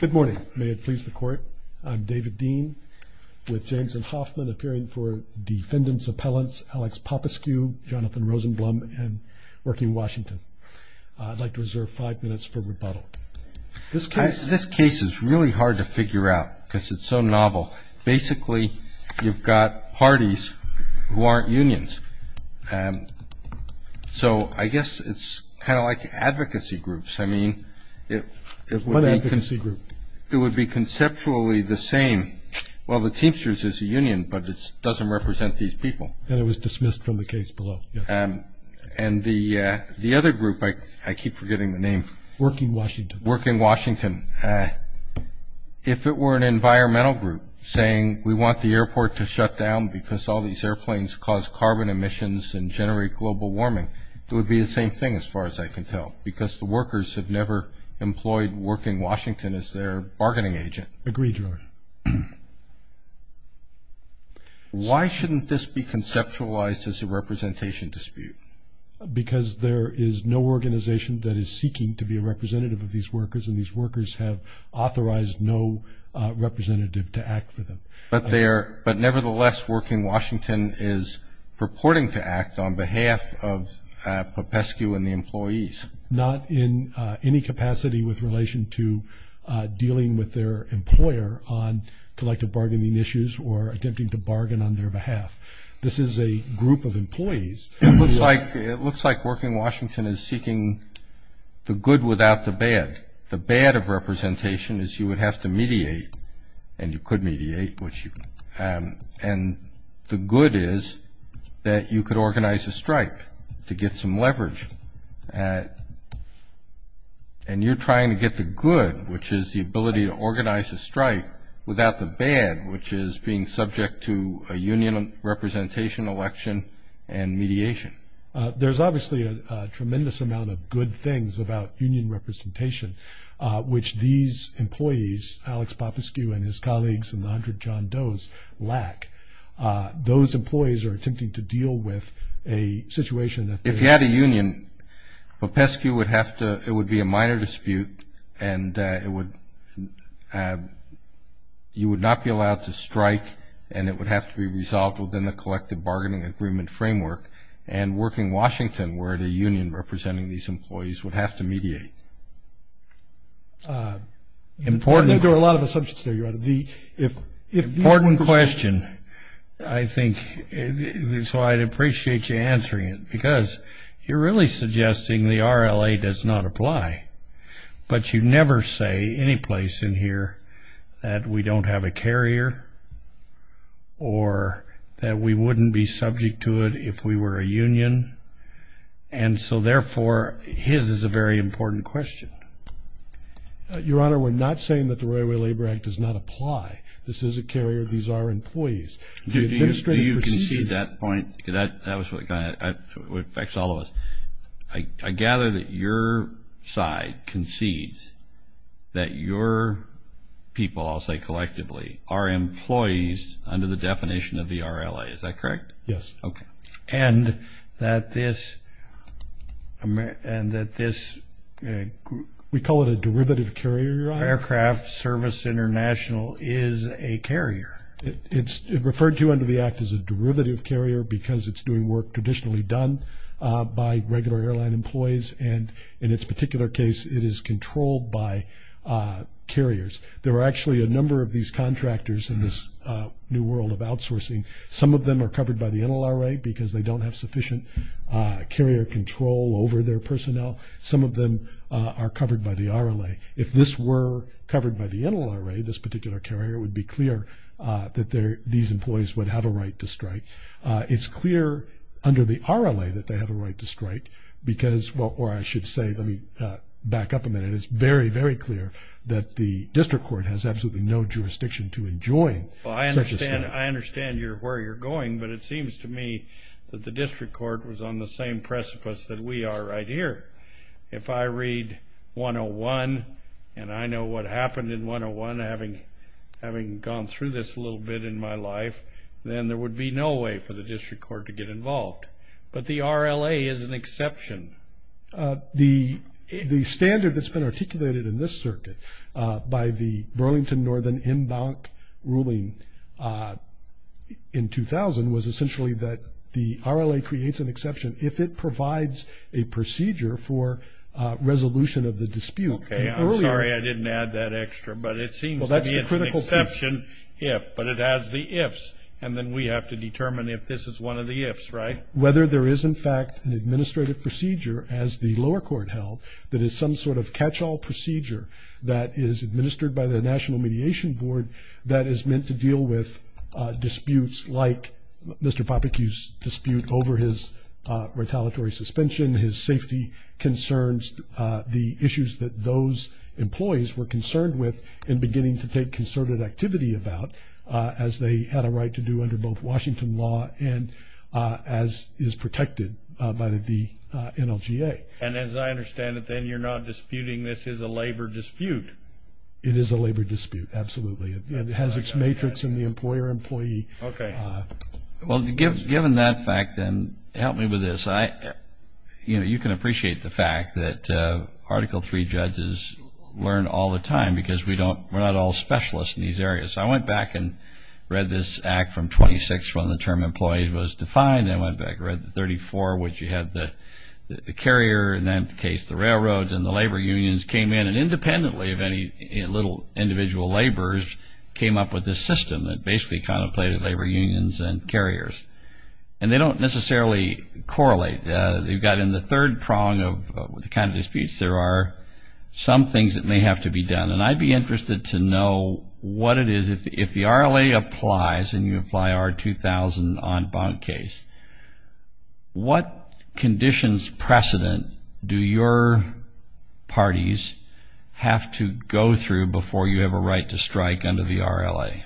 Good morning. May it please the court. I'm David Dean, with Jameson Hoffman, appearing for Defendant's Appellants, Alex Popescu, Jonathan Rosenblum, and Working Washington. I'd like to reserve five minutes for rebuttal. This case is really hard to figure out because it's so novel. Basically, you've got parties who aren't unions. So I guess it's kind of like advocacy groups. I mean, it would be conceptually the same. Well, the Teamsters is a union, but it doesn't represent these people. And it was dismissed from the case below. And the other group, I keep forgetting the name. Working Washington. Working Washington. If it were an environmental group saying, we want the airport to shut down because all these airplanes cause carbon emissions and generate global warming, it would be the same thing, as far as I can tell, because the workers have never employed Working Washington as their bargaining agent. Agreed, Your Honor. Why shouldn't this be conceptualized as a representation dispute? Because there is no organization that is seeking to be a representative of these workers, and these workers have authorized no representative to act for them. But nevertheless, Working Washington is purporting to act on behalf of Popescu and the employees. Not in any capacity with relation to dealing with their employer on collective bargaining issues or attempting to bargain on their behalf. This is a group of employees. It looks like Working Washington is seeking the good without the bad. The bad of representation is you would have to mediate, and you could mediate. And the good is that you could organize a strike to get some leverage. And you're trying to get the good, which is the ability to organize a strike, without the bad, which is being subject to a union representation election and mediation. There's obviously a tremendous amount of good things about union representation, which these employees, Alex Popescu and his colleagues in the 100 John Doe's, lack. Those employees are attempting to deal with a situation that- If you had a union, Popescu would have to, it would be a minor dispute, and you would not be allowed to strike, and it would have to be resolved within the collective bargaining agreement framework. And Working Washington, where the union representing these employees, would have to mediate. There are a lot of assumptions there, Your Honor. Important question, I think, and so I'd appreciate you answering it, because you're really suggesting the RLA does not apply. But you never say any place in here that we don't have a carrier, or that we wouldn't be subject to it if we were a union. And so therefore, his is a very important question. Your Honor, we're not saying that the Railway Labor Act does not apply. This is a carrier. These are employees. Do you concede that point? That was what affects all of us. I gather that your side concedes that your people, I'll say collectively, are employees under the definition of the RLA. Is that correct? Yes. Okay. And that this, and that this- We call it a derivative carrier, Your Honor. Aircraft Service International is a carrier. It's referred to under the act as a derivative carrier because it's doing work traditionally done by regular airline employees, and in its particular case, it is controlled by carriers. There are actually a number of these contractors in this new world of outsourcing. Some of them are covered by the NLRA because they don't have sufficient carrier control over their personnel. Some of them are covered by the RLA. If this were covered by the NLRA, this particular carrier, it would be clear that these employees would have a right to strike. It's clear under the RLA that they have a right to strike because, or I should say, let me back up a minute, it's very, very clear that the district court has absolutely no jurisdiction to enjoin such a strike. Well, I understand where you're going, but it seems to me that the district court was on the same precipice that we are right here. If I read 101, and I know what happened in 101, having gone through this a little bit in my life, then there would be no way for the district court to get involved. But the RLA is an exception. The standard that's been articulated in this circuit by the Burlington Northern Embank ruling in 2000 was essentially that the RLA creates an exception if it provides a procedure for resolution of the dispute. Okay, I'm sorry I didn't add that extra, but it seems to be an exception if, but it has the ifs, and then we have to determine if this is one of the ifs, right? Whether there is, in fact, an administrative procedure, as the lower court held, that is some sort of catch-all procedure that is administered by the National Mediation Board that is meant to deal with disputes like Mr. Popik's dispute over his retaliatory suspension, his safety concerns, the issues that those employees were concerned with and beginning to take concerted activity about, as they had a right to do under both Washington law and as is protected by the NLGA. And as I understand it, then you're not disputing this is a labor dispute? It is a labor dispute, absolutely. It has its matrix in the employer-employee. Okay. Well, given that fact, then help me with this. You can appreciate the fact that Article III judges learn all the time because we're not all specialists in these areas. I went back and read this Act from 26 when the term employee was defined. I went back and read the 34, which you had the carrier, in that case the railroad, and the labor unions came in, and independently of any little individual laborers came up with this system that basically contemplated labor unions and carriers. And they don't necessarily correlate. You've got in the third prong of the kind of disputes there are some things that may have to be done, and I'd be interested to know what it is if the RLA applies and you apply R2000 on bond case, what conditions precedent do your parties have to go through before you have a right to strike under the RLA?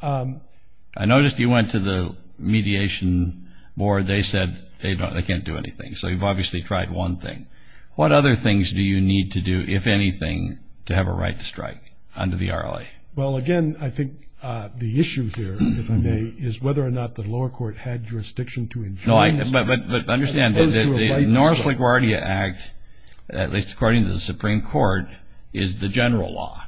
I noticed you went to the mediation board. They said they can't do anything. So you've obviously tried one thing. What other things do you need to do, if anything, to have a right to strike under the RLA? Well, again, I think the issue here, if I may, is whether or not the lower court had jurisdiction to enjoin this. But understand, the North LaGuardia Act, at least according to the Supreme Court, is the general law.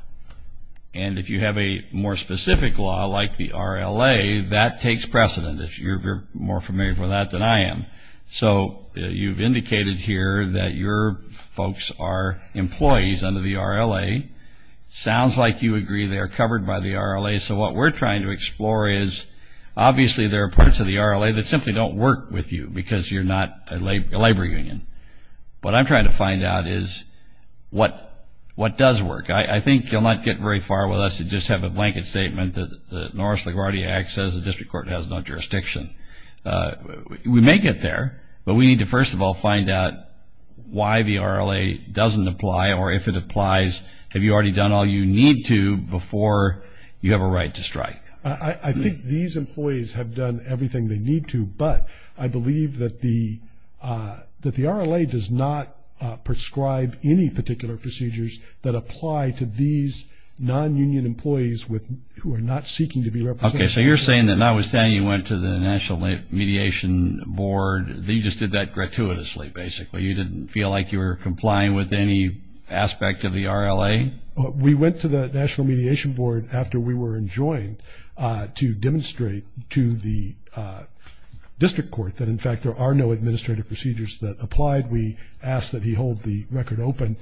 And if you have a more specific law like the RLA, that takes precedent, if you're more familiar with that than I am. So you've indicated here that your folks are employees under the RLA. Sounds like you agree they're covered by the RLA. So what we're trying to explore is obviously there are parts of the RLA that simply don't work with you because you're not a labor union. What I'm trying to find out is what does work. I think you'll not get very far with us to just have a blanket statement that the North LaGuardia Act says the district court has no jurisdiction. We may get there, but we need to first of all find out why the RLA doesn't apply, or if it applies, have you already done all you need to before you have a right to strike? I think these employees have done everything they need to, but I believe that the RLA does not prescribe any particular procedures that apply to these non-union employees who are not seeking to be represented. Okay, so you're saying that notwithstanding you went to the National Mediation Board, you just did that gratuitously, basically. You didn't feel like you were complying with any aspect of the RLA? We went to the National Mediation Board after we were enjoined to demonstrate to the district court that, in fact, there are no administrative procedures that applied. We asked that he hold the record open.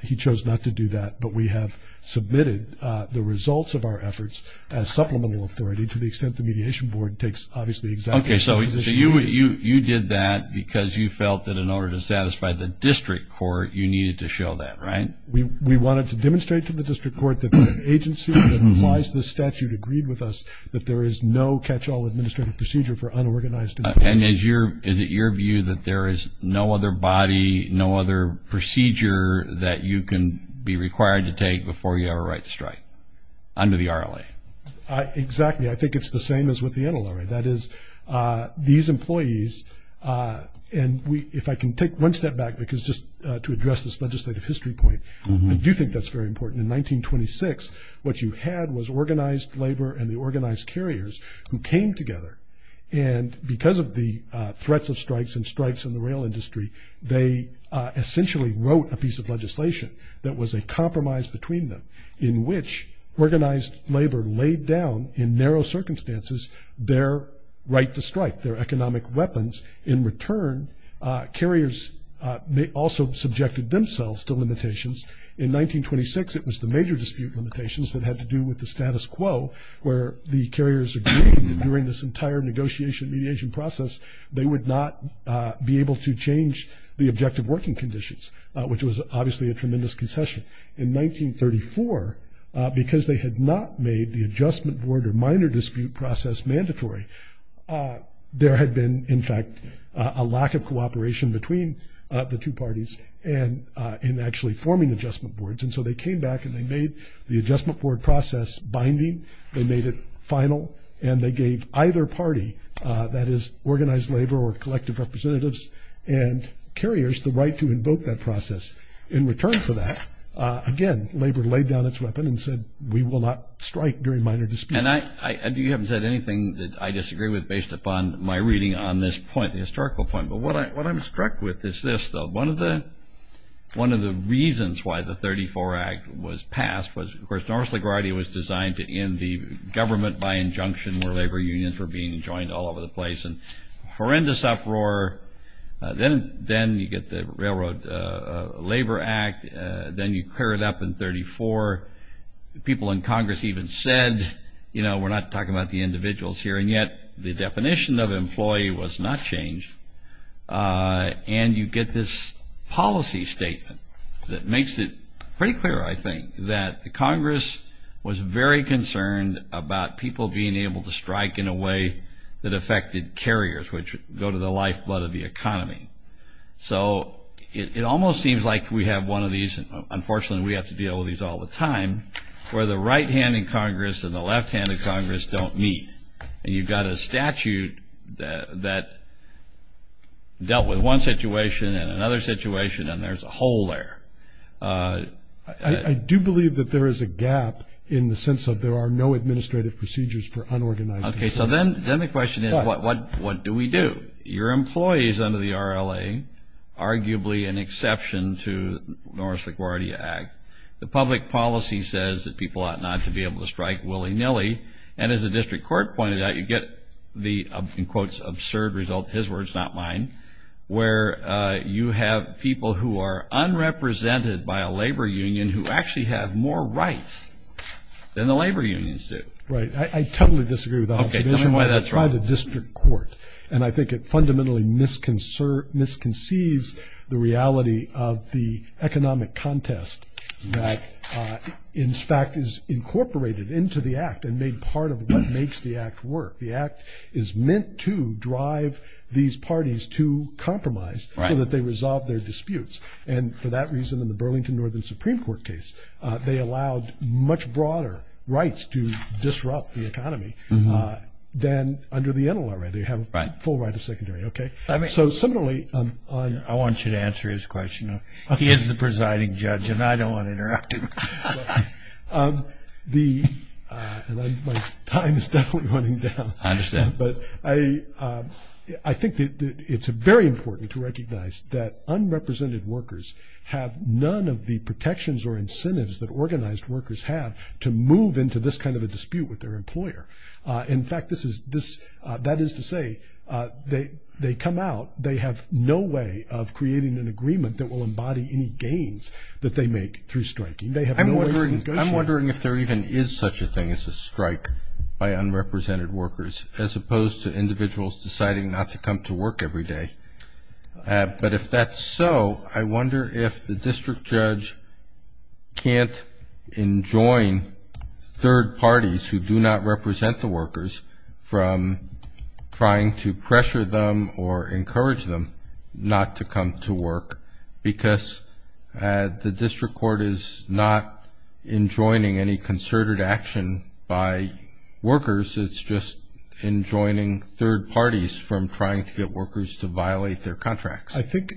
He chose not to do that, but we have submitted the results of our efforts as supplemental authority, to the extent the Mediation Board takes, obviously, exactly the position. Okay, so you did that because you felt that in order to satisfy the district court, you needed to show that, right? We wanted to demonstrate to the district court that the agency that applies this statute agreed with us that there is no catch-all administrative procedure for unorganized employees. And is it your view that there is no other body, no other procedure that you can be required to take before you have a right to strike under the RLA? Exactly. I think it's the same as with the NLRA. That is, these employees, and if I can take one step back, because just to address this legislative history point, I do think that's very important. In 1926, what you had was organized labor and the organized carriers who came together. And because of the threats of strikes and strikes in the rail industry, they essentially wrote a piece of legislation that was a compromise between them, in which organized labor laid down, in narrow circumstances, their right to strike, their economic weapons. In return, carriers also subjected themselves to limitations. In 1926, it was the major dispute limitations that had to do with the status quo, where the carriers agreed that during this entire negotiation mediation process, they would not be able to change the objective working conditions, which was obviously a tremendous concession. In 1934, because they had not made the adjustment board or minor dispute process mandatory, there had been, in fact, a lack of cooperation between the two parties in actually forming adjustment boards. And so they came back and they made the adjustment board process binding, they made it final, and they gave either party, that is, organized labor or collective representatives and carriers the right to invoke that process. In return for that, again, labor laid down its weapon and said, we will not strike during minor disputes. And you haven't said anything that I disagree with based upon my reading on this point, the historical point. But what I'm struck with is this, though. One of the reasons why the 34 Act was passed was, of course, Norris LaGuardia was designed to end the government by injunction where labor unions were being joined all over the place. And horrendous uproar. Then you get the Railroad Labor Act. Then you clear it up in 34. People in Congress even said, you know, we're not talking about the individuals here. And yet the definition of employee was not changed. And you get this policy statement that makes it pretty clear, I think, that Congress was very concerned about people being able to strike in a way that affected carriers, which go to the lifeblood of the economy. So it almost seems like we have one of these, and unfortunately we have to deal with these all the time, where the right hand in Congress and the left hand in Congress don't meet. And you've got a statute that dealt with one situation and another situation, and there's a hole there. I do believe that there is a gap in the sense of there are no administrative procedures for unorganized business. Okay. So then the question is, what do we do? Your employees under the RLA, arguably an exception to the Norris LaGuardia Act. The public policy says that people ought not to be able to strike willy-nilly. And as the district court pointed out, you get the, in quotes, absurd result, his words, not mine, where you have people who are unrepresented by a labor union who actually have more rights than the labor unions do. Right. I totally disagree with that. Okay. Tell me why that's wrong. By the district court. And I think it fundamentally misconceives the reality of the economic contest that, in fact, is incorporated into the act and made part of what makes the act work. The act is meant to drive these parties to compromise so that they resolve their disputes. And for that reason, in the Burlington Northern Supreme Court case, they allowed much broader rights to disrupt the economy than under the NLRA. They have a full right of secondary. Okay. So similarly, I want you to answer his question. He is the presiding judge, and I don't want to interrupt him. My time is definitely running down. I understand. But I think that it's very important to recognize that unrepresented workers have none of the protections or incentives that organized workers have to move into this kind of a dispute with their employer. In fact, that is to say, they come out, they have no way of creating an agreement that will embody any gains that they make through striking. They have no way of negotiating. I'm wondering if there even is such a thing as a strike by unrepresented workers, as opposed to individuals deciding not to come to work every day. But if that's so, I wonder if the district judge can't enjoin third parties, who do not represent the workers, from trying to pressure them or encourage them not to come to work, because the district court is not enjoining any concerted action by workers. It's just enjoining third parties from trying to get workers to violate their contracts. I think,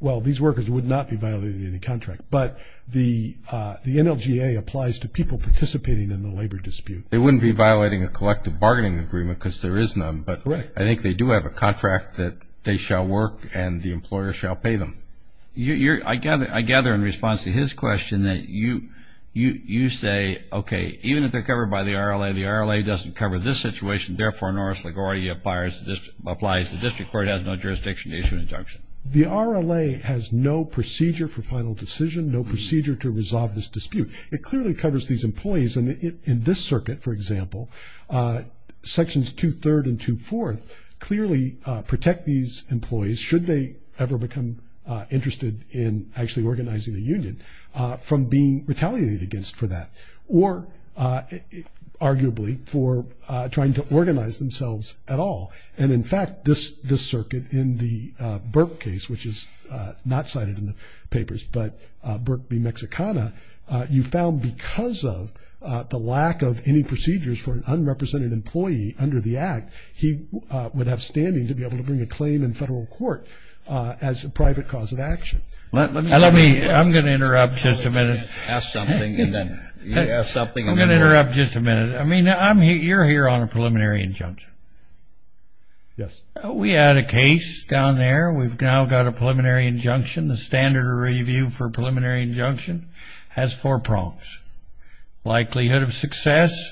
well, these workers would not be violating any contract. But the NLGA applies to people participating in the labor dispute. They wouldn't be violating a collective bargaining agreement because there is none. Correct. I think they do have a contract that they shall work and the employer shall pay them. I gather in response to his question that you say, okay, even if they're covered by the RLA, the RLA doesn't cover this situation. Therefore, Norris LaGuardia applies. The district court has no jurisdiction to issue an injunction. The RLA has no procedure for final decision, no procedure to resolve this dispute. It clearly covers these employees. In this circuit, for example, Sections 2-3rd and 2-4th clearly protect these employees, should they ever become interested in actually organizing a union, from being retaliated against for that, or arguably for trying to organize themselves at all. And, in fact, this circuit in the Burke case, which is not cited in the papers, but Burke v. Mexicana, you found because of the lack of any procedures for an unrepresented employee under the Act, he would have standing to be able to bring a claim in federal court as a private cause of action. Let me, I'm going to interrupt just a minute. Ask something and then you ask something. I'm going to interrupt just a minute. I mean, you're here on a preliminary injunction. Yes. We had a case down there. We've now got a preliminary injunction. The standard review for a preliminary injunction has four prongs. Likelihood of success,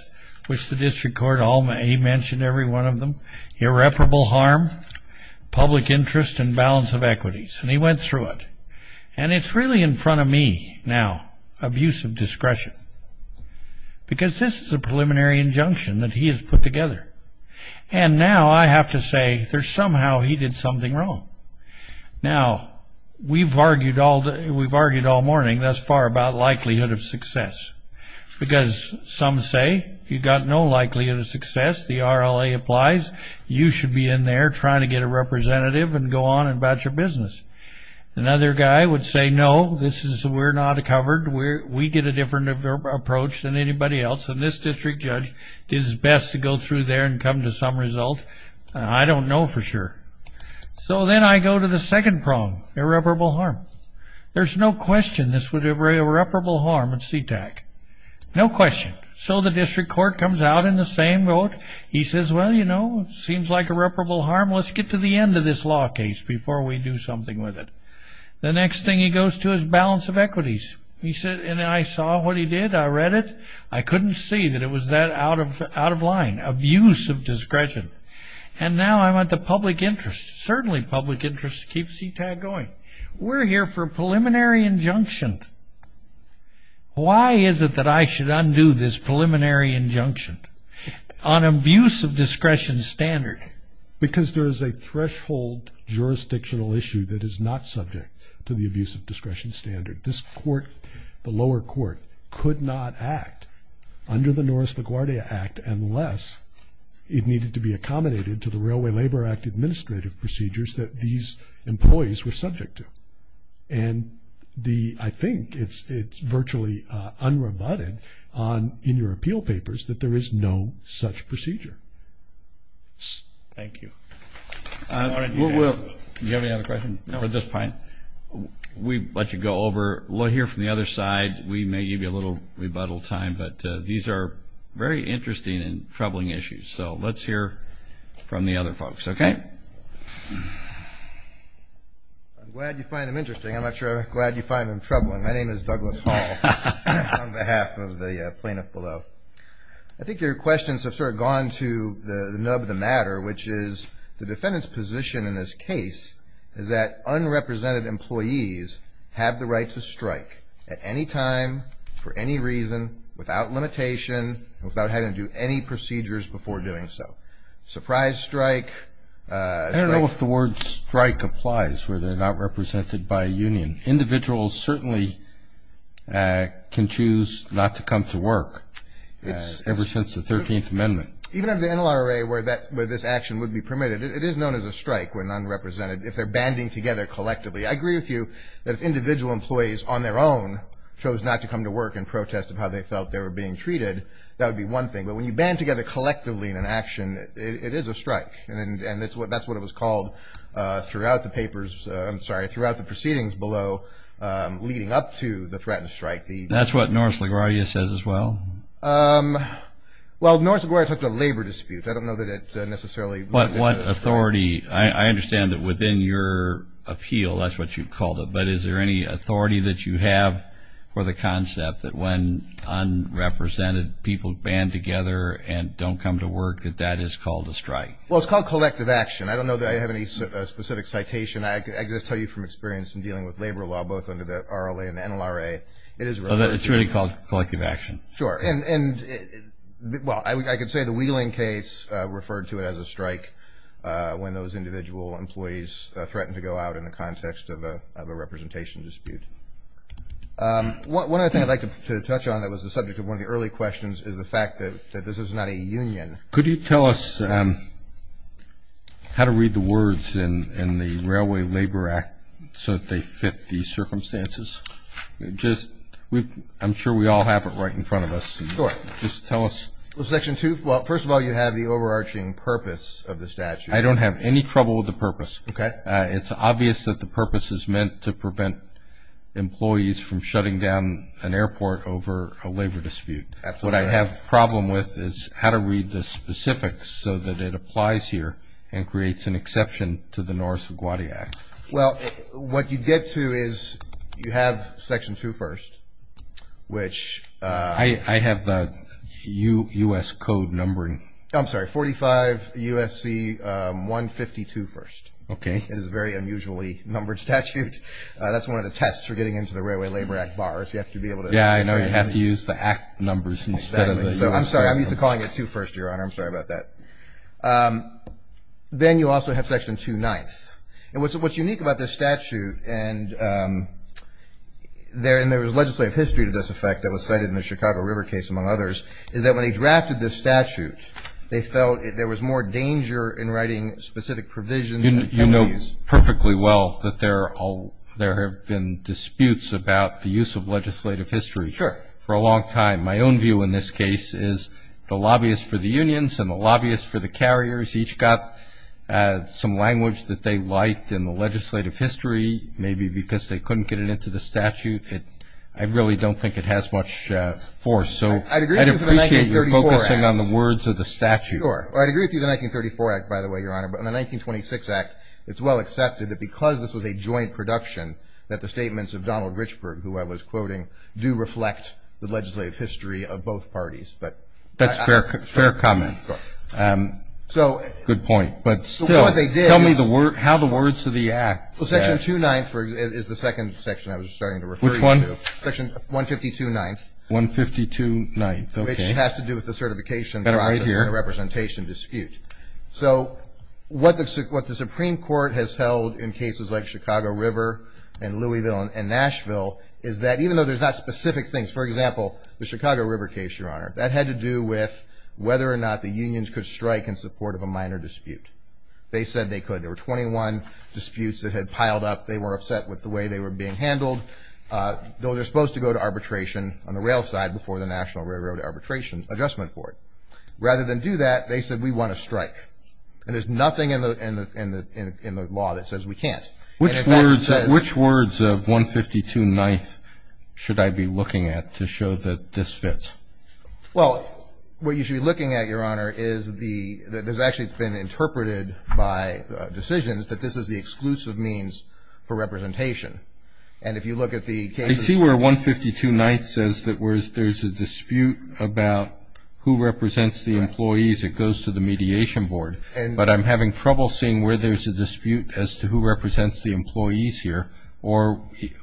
which the district court, he mentioned every one of them. Irreparable harm, public interest, and balance of equities. And he went through it. And it's really in front of me now, abuse of discretion, because this is a preliminary injunction that he has put together. And now I have to say there's somehow he did something wrong. Now, we've argued all morning thus far about likelihood of success, because some say you've got no likelihood of success. The RLA applies. You should be in there trying to get a representative and go on about your business. Another guy would say, no, we're not covered. We get a different approach than anybody else. And this district judge did his best to go through there and come to some result. I don't know for sure. So then I go to the second prong, irreparable harm. There's no question this would be irreparable harm at CTAG. No question. So the district court comes out in the same vote. He says, well, you know, it seems like irreparable harm. Let's get to the end of this law case before we do something with it. The next thing he goes to is balance of equities. And I saw what he did. I read it. I couldn't see that it was that out of line, abuse of discretion. And now I'm at the public interest, certainly public interest to keep CTAG going. We're here for a preliminary injunction. Why is it that I should undo this preliminary injunction on abuse of discretion standard? Because there is a threshold jurisdictional issue that is not subject to the abuse of discretion standard. This court, the lower court, could not act under the Norris LaGuardia Act unless it needed to be accommodated to the Railway Labor Act administrative procedures that these employees were subject to. And I think it's virtually unremitted in your appeal papers that there is no such procedure. Thank you. Do you have any other questions? No. We'll let you go over. We'll hear from the other side. We may give you a little rebuttal time. But these are very interesting and troubling issues. So let's hear from the other folks, okay? I'm glad you find them interesting. I'm not sure I'm glad you find them troubling. My name is Douglas Hall on behalf of the plaintiff below. I think your questions have sort of gone to the nub of the matter, which is the defendant's position in this case is that unrepresented employees have the right to strike at any time, for any reason, without limitation, without having to do any procedures before doing so. Surprise strike. I don't know if the word strike applies where they're not represented by a union. Individuals certainly can choose not to come to work ever since the 13th Amendment. Even under the NLRA where this action would be permitted, it is known as a strike when unrepresented, if they're banding together collectively. I agree with you that if individual employees on their own chose not to come to work in protest of how they felt they were being treated, that would be one thing. But when you band together collectively in an action, it is a strike. And that's what it was called throughout the papers, I'm sorry, throughout the proceedings below leading up to the threatened strike. That's what Norris LaGuardia says as well? Well, Norris LaGuardia took the labor dispute. I don't know that it necessarily. But what authority? I understand that within your appeal, that's what you called it. But is there any authority that you have for the concept that when unrepresented people band together and don't come to work, that that is called a strike? Well, it's called collective action. I don't know that I have any specific citation. I can just tell you from experience in dealing with labor law, both under the RLA and the NLRA, it is referred to as collective action. It's really called collective action. Sure. And, well, I could say the Wheeling case referred to it as a strike when those individual employees threatened to go out in the context of a representation dispute. One other thing I'd like to touch on that was the subject of one of the early questions is the fact that this is not a union. Could you tell us how to read the words in the Railway Labor Act so that they fit these circumstances? I'm sure we all have it right in front of us. Sure. Just tell us. Well, Section 2, first of all, you have the overarching purpose of the statute. I don't have any trouble with the purpose. Okay. It's obvious that the purpose is meant to prevent employees from shutting down an airport over a labor dispute. Absolutely. What I have a problem with is how to read the specifics so that it applies here and creates an exception to the Norris-Iguati Act. Well, what you get to is you have Section 2, first, which... I have the U.S. Code numbering. I'm sorry, 45 U.S.C. 152, first. Okay. It is a very unusually numbered statute. That's one of the tests for getting into the Railway Labor Act bars. You have to be able to... Yeah, I know. You have to use the Act numbers instead of the U.S. Code numbers. I'm sorry. I'm used to calling it 2, first, Your Honor. I'm sorry about that. Then you also have Section 2, ninth. And what's unique about this statute and there is legislative history to this effect that was cited in the Chicago River case, among others, is that when they drafted this statute they felt there was more danger in writing specific provisions... You know perfectly well that there have been disputes about the use of legislative history. Sure. For a long time. My own view in this case is the lobbyists for the unions and the lobbyists for the carriers each got some language that they liked in the legislative history, maybe because they couldn't get it into the statute. I really don't think it has much force. So I'd appreciate you focusing on the words of the statute. Sure. I'd agree with you on the 1934 Act, by the way, Your Honor. But in the 1926 Act it's well accepted that because this was a joint production that the statements of Donald Richburg, who I was quoting, do reflect the legislative history of both parties. That's a fair comment. Good point. But still... The point they did... Tell me how the words of the Act... Section 2-9 is the second section I was starting to refer you to. Which one? Section 152-9. 152-9, okay. Which has to do with the certification process. Better right here. And the representation dispute. So what the Supreme Court has held in cases like Chicago River and Louisville and Nashville is that even though there's not specific things. For example, the Chicago River case, Your Honor, that had to do with whether or not the unions could strike in support of a minor dispute. They said they could. There were 21 disputes that had piled up. They were upset with the way they were being handled. Those are supposed to go to arbitration on the rail side before the National Railroad Arbitration Adjustment Board. Rather than do that, they said we want to strike. And there's nothing in the law that says we can't. Which words of 152-9 should I be looking at to show that this fits? Well, what you should be looking at, Your Honor, is the actually it's been interpreted by decisions that this is the exclusive means for representation. And if you look at the cases... I see where 152-9 says that there's a dispute about who represents the employees. It goes to the Mediation Board. But I'm having trouble seeing where there's a dispute as to who represents the employees here or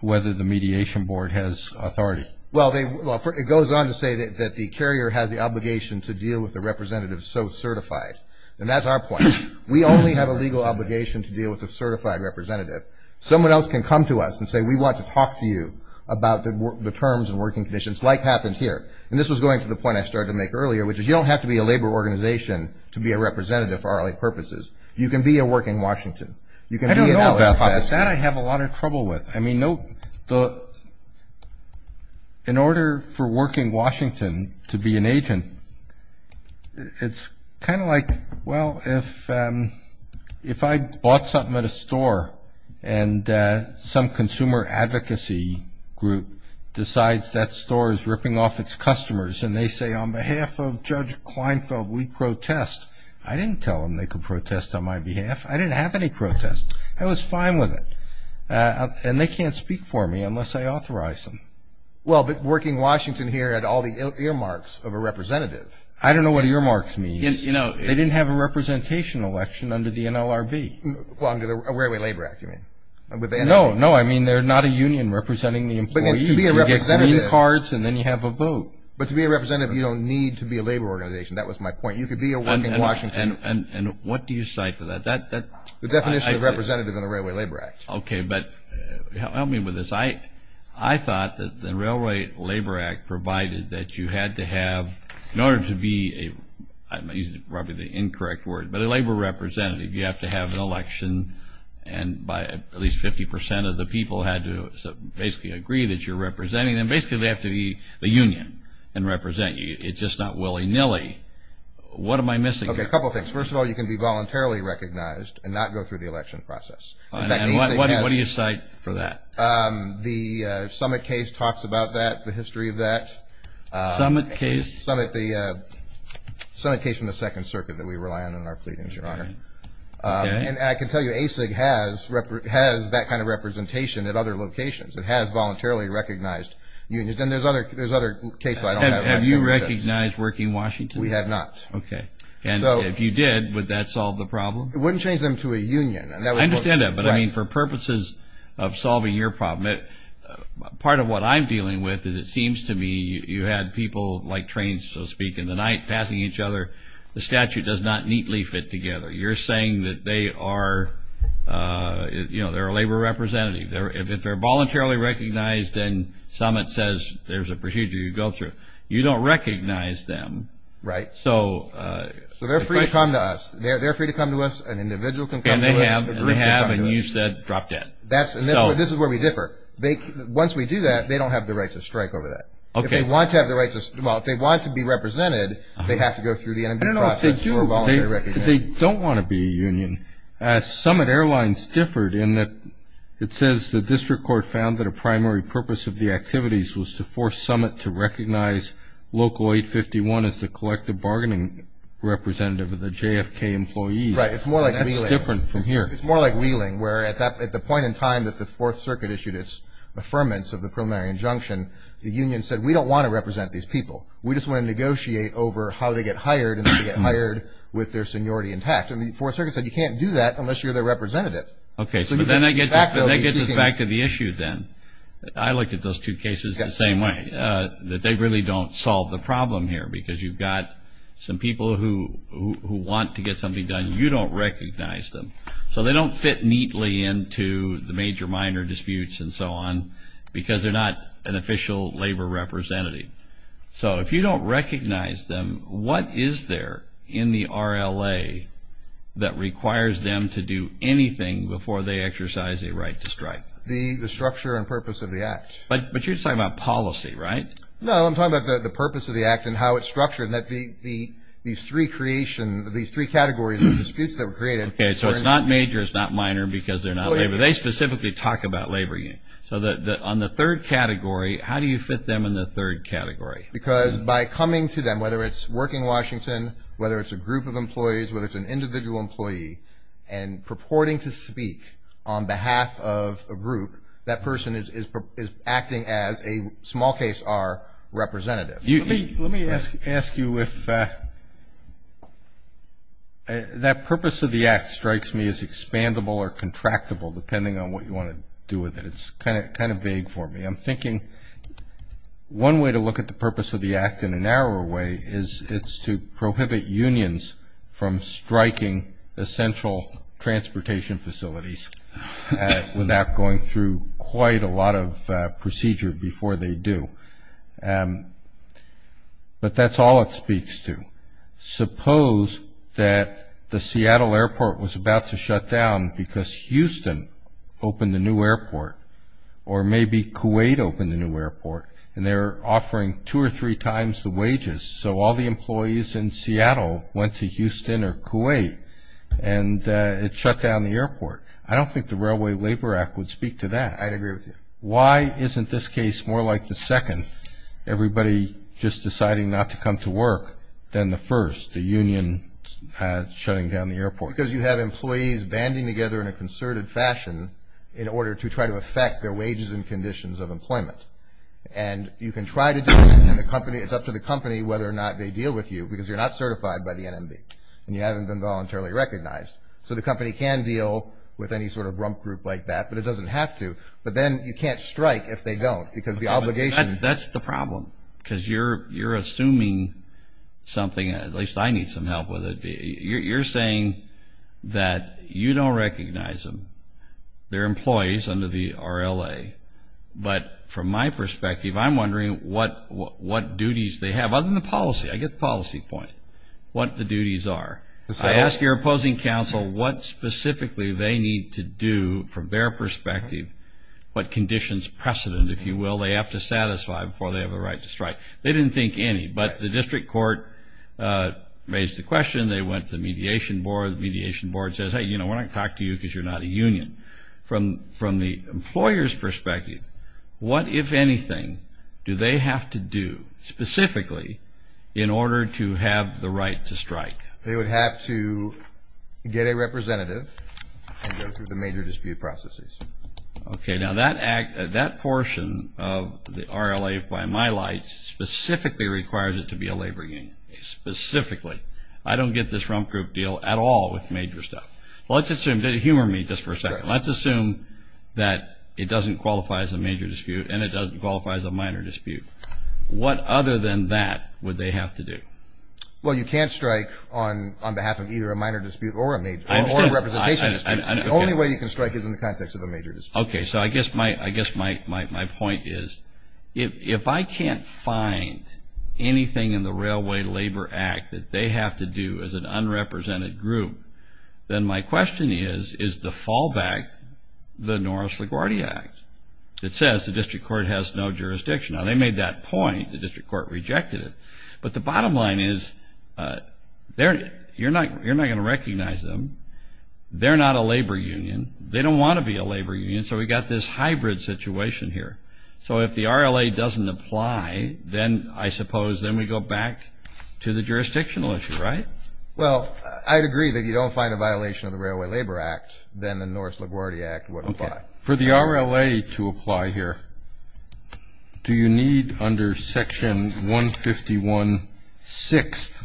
whether the Mediation Board has authority. Well, it goes on to say that the carrier has the obligation to deal with a representative so certified. And that's our point. We only have a legal obligation to deal with a certified representative. Someone else can come to us and say we want to talk to you about the terms and working conditions like happened here. And this was going to the point I started to make earlier, which is you don't have to be a labor organization to be a representative for our purposes. You can be a working Washington. I don't know about that. That I have a lot of trouble with. I mean, in order for working Washington to be an agent, it's kind of like, well, if I bought something at a store and some consumer advocacy group decides that store is ripping off its customers and they say on behalf of Judge Kleinfeld we protest, I didn't tell them they could protest on my behalf. I didn't have any protests. I was fine with it. And they can't speak for me unless I authorize them. Well, but working Washington here had all the earmarks of a representative. I don't know what earmarks means. They didn't have a representation election under the NLRB. Well, under the Railway Labor Act, you mean. No, no, I mean they're not a union representing the employees. You get green cards and then you have a vote. But to be a representative, you don't need to be a labor organization. That was my point. You could be a working Washington. And what do you cite for that? The definition of representative in the Railway Labor Act. Okay, but help me with this. I thought that the Railway Labor Act provided that you had to have, in order to be a, I'm using probably the incorrect word, but a labor representative, you have to have an election and at least 50 percent of the people had to basically agree that you're representing them. So basically they have to be the union and represent you. It's just not willy-nilly. What am I missing here? Okay, a couple things. First of all, you can be voluntarily recognized and not go through the election process. And what do you cite for that? The summit case talks about that, the history of that. Summit case? Summit case from the Second Circuit that we rely on in our pleadings, Your Honor. And I can tell you ASIG has that kind of representation at other locations. It has voluntarily recognized unions. And there's other cases I don't have. Have you recognized Working Washington? We have not. Okay. And if you did, would that solve the problem? It wouldn't change them to a union. I understand that, but I mean for purposes of solving your problem, part of what I'm dealing with is it seems to me you had people like trains, so to speak, in the night passing each other. The statute does not neatly fit together. You're saying that they are a labor representative. Exactly. If they're voluntarily recognized and summit says there's a procedure you go through, you don't recognize them. Right. So they're free to come to us. They're free to come to us. An individual can come to us. And they have. And they have. And you said drop dead. This is where we differ. Once we do that, they don't have the right to strike over that. Okay. If they want to have the right to strike, well, if they want to be represented, they have to go through the NMB process. I don't know if they do. They don't want to be a union. As summit airlines differed in that it says the district court found that a primary purpose of the activities was to force summit to recognize Local 851 as the collective bargaining representative of the JFK employees. Right. It's more like Wheeling. That's different from here. It's more like Wheeling where at the point in time that the Fourth Circuit issued its affirmance of the preliminary injunction, the union said we don't want to represent these people. We just want to negotiate over how they get hired and how they get hired with their seniority intact. And the Fourth Circuit said you can't do that unless you're their representative. Okay. So then I get back to the issue then. I look at those two cases the same way, that they really don't solve the problem here because you've got some people who want to get something done. You don't recognize them. So they don't fit neatly into the major-minor disputes and so on because they're not an official labor representative. So if you don't recognize them, what is there in the RLA that requires them to do anything before they exercise a right to strike? The structure and purpose of the act. But you're talking about policy, right? No, I'm talking about the purpose of the act and how it's structured and these three categories of disputes that were created. Okay. So it's not major, it's not minor because they're not labor. They specifically talk about labor unions. Okay. So on the third category, how do you fit them in the third category? Because by coming to them, whether it's Working Washington, whether it's a group of employees, whether it's an individual employee, and purporting to speak on behalf of a group, that person is acting as a small case R representative. Let me ask you if that purpose of the act strikes me as expandable or contractable depending on what you want to do with it. It's kind of vague for me. I'm thinking one way to look at the purpose of the act in a narrower way is it's to prohibit unions from striking essential transportation facilities without going through quite a lot of procedure before they do. But that's all it speaks to. Suppose that the Seattle airport was about to shut down because Houston opened a new airport or maybe Kuwait opened a new airport, and they're offering two or three times the wages. So all the employees in Seattle went to Houston or Kuwait, and it shut down the airport. I don't think the Railway Labor Act would speak to that. I'd agree with you. Why isn't this case more like the second, everybody just deciding not to come to work, than the first, the union shutting down the airport? Because you have employees banding together in a concerted fashion in order to try to affect their wages and conditions of employment. And you can try to do it, and it's up to the company whether or not they deal with you, because you're not certified by the NMB, and you haven't been voluntarily recognized. So the company can deal with any sort of grump group like that, but it doesn't have to. But then you can't strike if they don't, because the obligation... That's the problem, because you're assuming something, at least I need some help with it. You're saying that you don't recognize them. They're employees under the RLA. But from my perspective, I'm wondering what duties they have, other than the policy. I get the policy point, what the duties are. I ask your opposing counsel what specifically they need to do from their perspective, what conditions precedent, if you will, they have to satisfy before they have the right to strike. They didn't think any, but the district court raised the question. They went to the mediation board. The mediation board says, hey, you know, we're not going to talk to you because you're not a union. From the employer's perspective, what, if anything, do they have to do specifically in order to have the right to strike? They would have to get a representative and go through the major dispute processes. Okay. Now, that portion of the RLA, by my lights, specifically requires it to be a labor union, specifically. I don't get this rump group deal at all with major stuff. Humor me just for a second. Let's assume that it doesn't qualify as a major dispute and it doesn't qualify as a minor dispute. What other than that would they have to do? Well, you can't strike on behalf of either a minor dispute or a representation dispute. The only way you can strike is in the context of a major dispute. Okay. So I guess my point is, if I can't find anything in the Railway Labor Act that they have to do as an unrepresented group, then my question is, is the fallback the Norris LaGuardia Act? It says the district court has no jurisdiction. Now, they made that point. The district court rejected it. But the bottom line is, you're not going to recognize them. They're not a labor union. They don't want to be a labor union, so we've got this hybrid situation here. So if the RLA doesn't apply, then I suppose then we go back to the jurisdictional issue, right? Well, I'd agree that if you don't find a violation of the Railway Labor Act, then the Norris LaGuardia Act would apply. For the RLA to apply here, do you need under Section 151-6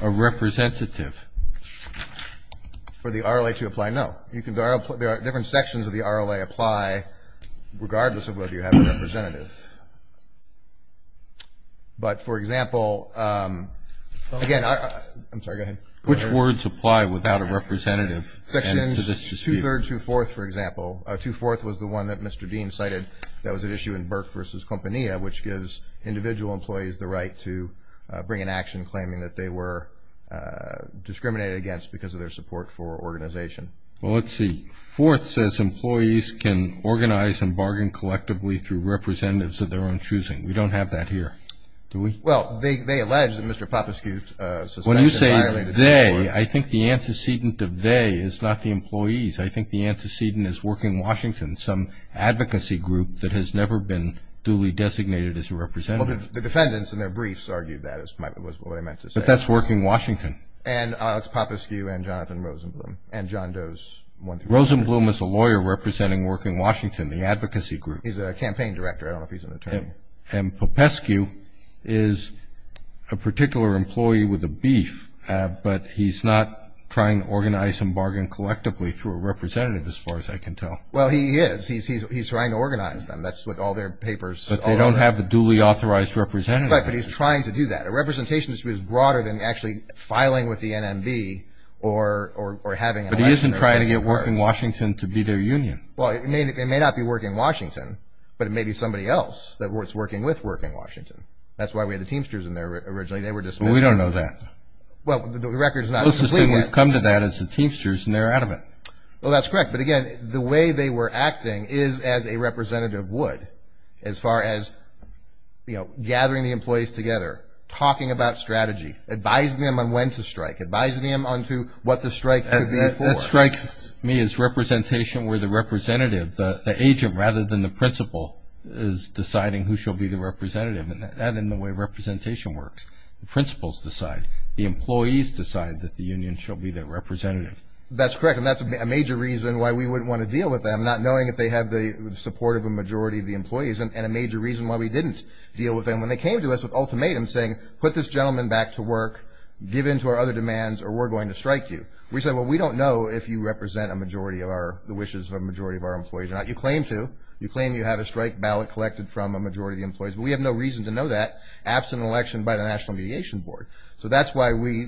a representative? For the RLA to apply, no. There are different sections of the RLA apply regardless of whether you have a representative. But, for example, again, I'm sorry, go ahead. Which words apply without a representative? Sections 2-3rd, 2-4th, for example. 2-4th was the one that Mr. Dean cited that was at issue in Burke v. Compania, which gives individual employees the right to bring an action claiming that they were discriminated against because of their support for organization. Well, let's see. 4th says employees can organize and bargain collectively through representatives of their own choosing. We don't have that here. Do we? Well, they allege that Mr. Popescu's suspension violated that. They, I think the antecedent of they is not the employees. I think the antecedent is Working Washington, some advocacy group that has never been duly designated as a representative. Well, the defendants in their briefs argued that was what they meant to say. But that's Working Washington. And Alex Popescu and Jonathan Rosenblum and John Doe's 133. Rosenblum is a lawyer representing Working Washington, the advocacy group. I don't know if he's an attorney. And Popescu is a particular employee with a beef, but he's not trying to organize and bargain collectively through a representative as far as I can tell. Well, he is. He's trying to organize them. That's what all their papers. But they don't have a duly authorized representative. Right, but he's trying to do that. A representation is broader than actually filing with the NMB or having an election. But he isn't trying to get Working Washington to be their union. Well, it may not be Working Washington, but it may be somebody else that's working with Working Washington. That's why we had the Teamsters in there originally. They were dismissed. Well, we don't know that. Well, the record is not complete yet. The closest thing we've come to that is the Teamsters, and they're out of it. Well, that's correct. But, again, the way they were acting is as a representative would, as far as gathering the employees together, talking about strategy, advising them on when to strike, advising them on what the strike could be for. That strike, to me, is representation where the representative, the agent rather than the principal, is deciding who shall be the representative. And that's the way representation works. The principals decide. The employees decide that the union shall be their representative. That's correct, and that's a major reason why we wouldn't want to deal with them, not knowing if they have the support of a majority of the employees, and a major reason why we didn't deal with them. When they came to us with ultimatums saying, put this gentleman back to work, give in to our other demands, or we're going to strike you. We said, well, we don't know if you represent a majority of our, the wishes of a majority of our employees. You claim to. You claim you have a strike ballot collected from a majority of the employees, but we have no reason to know that, absent an election by the National Mediation Board. So that's why we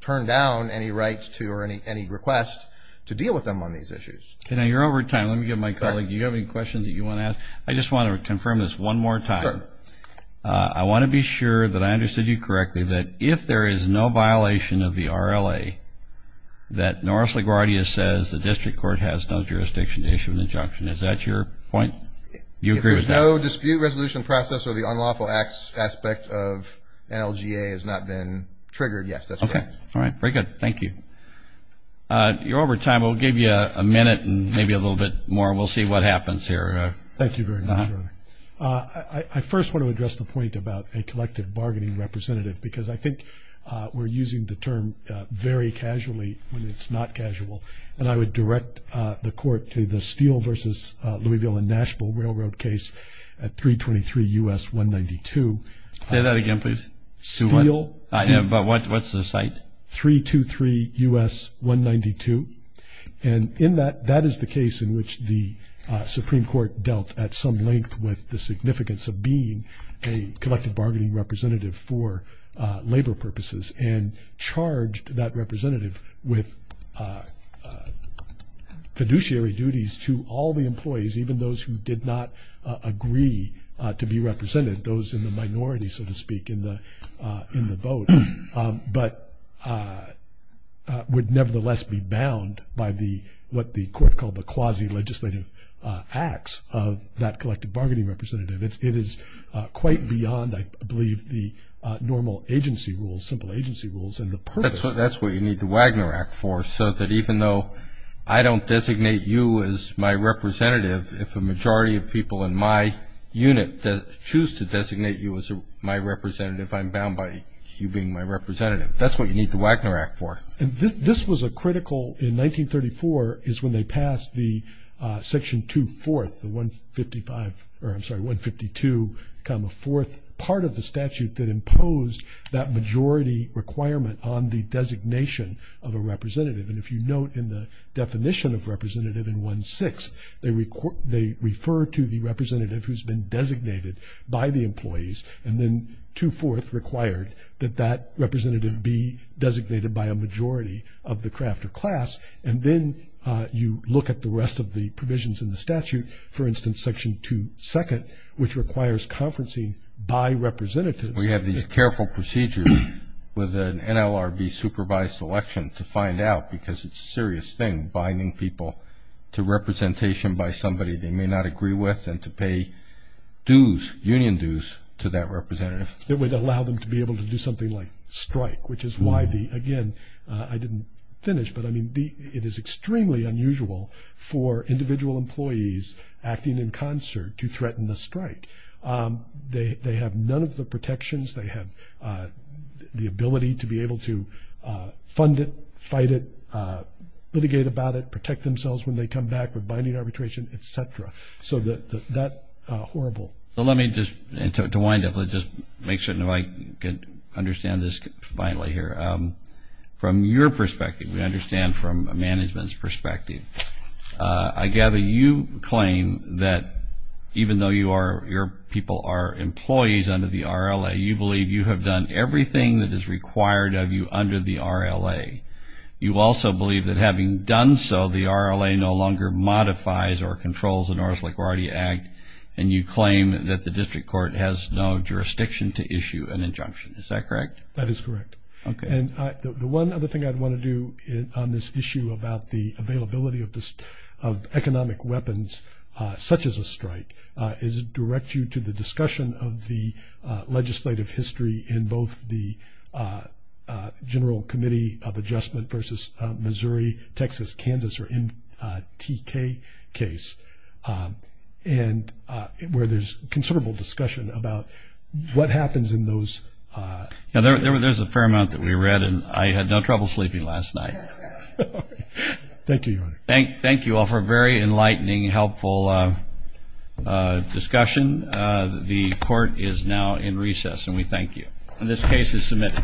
turn down any rights to or any requests to deal with them on these issues. You're over time. Let me get my colleague. Do you have any questions that you want to ask? I just want to confirm this one more time. Sure. I want to be sure that I understood you correctly, that if there is no violation of the RLA, that Norris LaGuardia says the district court has no jurisdiction to issue an injunction. Is that your point? You agree with that? If there's no dispute resolution process, or the unlawful acts aspect of NLGA has not been triggered, yes, that's correct. Okay. All right. Very good. Thank you. You're over time. We'll give you a minute and maybe a little bit more, and we'll see what happens here. Thank you very much, Robert. I first want to address the point about a collective bargaining representative, because I think we're using the term very casually when it's not casual. And I would direct the court to the Steele versus Louisville and Nashville Railroad case at 323 U.S. 192. Say that again, please. Steele. But what's the site? 323 U.S. 192. And in that, that is the case in which the Supreme Court dealt at some length with the significance of being a collective bargaining representative for labor purposes and charged that representative with fiduciary duties to all the employees, even those who did not agree to be represented, those in the minority, so to speak, in the vote, but would nevertheless be bound by what the court called the quasi-legislative acts of that collective bargaining representative. It is quite beyond, I believe, the normal agency rules, simple agency rules, and the purpose. That's what you need the Wagner Act for, so that even though I don't designate you as my representative, if a majority of people in my unit choose to designate you as my representative, I'm bound by you being my representative. That's what you need the Wagner Act for. And this was a critical in 1934 is when they passed the section 2-4, the 155, or I'm sorry, 152-4 part of the statute that imposed that majority requirement on the designation of a representative. And if you note in the definition of representative in 1-6, they refer to the representative who's been designated by the employees, and then 2-4 required that that representative be designated by a majority of the craft or class. And then you look at the rest of the provisions in the statute, for instance, Section 2-2, which requires conferencing by representatives. We have these careful procedures with an NLRB-supervised election to find out, because it's a serious thing binding people to representation by somebody they may not agree with and to pay dues, union dues, to that representative. It would allow them to be able to do something like strike, which is why the, again, I didn't finish, but I mean it is extremely unusual for individual employees acting in concert to threaten a strike. They have none of the protections. They have the ability to be able to fund it, fight it, litigate about it, protect themselves when they come back with binding arbitration, et cetera. So that horrible. So let me just, to wind up, let's just make certain I can understand this finally here. From your perspective, we understand from a management's perspective, I gather you claim that even though your people are employees under the RLA, you believe you have done everything that is required of you under the RLA. You also believe that having done so, the RLA no longer modifies or controls the Norris-LaGuardia Act, and you claim that the district court has no jurisdiction to issue an injunction. Is that correct? That is correct. Okay. And the one other thing I'd want to do on this issue about the availability of economic weapons, such as a strike, is direct you to the discussion of the legislative history in both the General Committee of Adjustment versus Missouri, Texas, Kansas, or MTK case, and where there's considerable discussion about what happens in those. There's a fair amount that we read, and I had no trouble sleeping last night. Thank you, Your Honor. Thank you all for a very enlightening, helpful discussion. The Court is now in recess, and we thank you. And this case is submitted.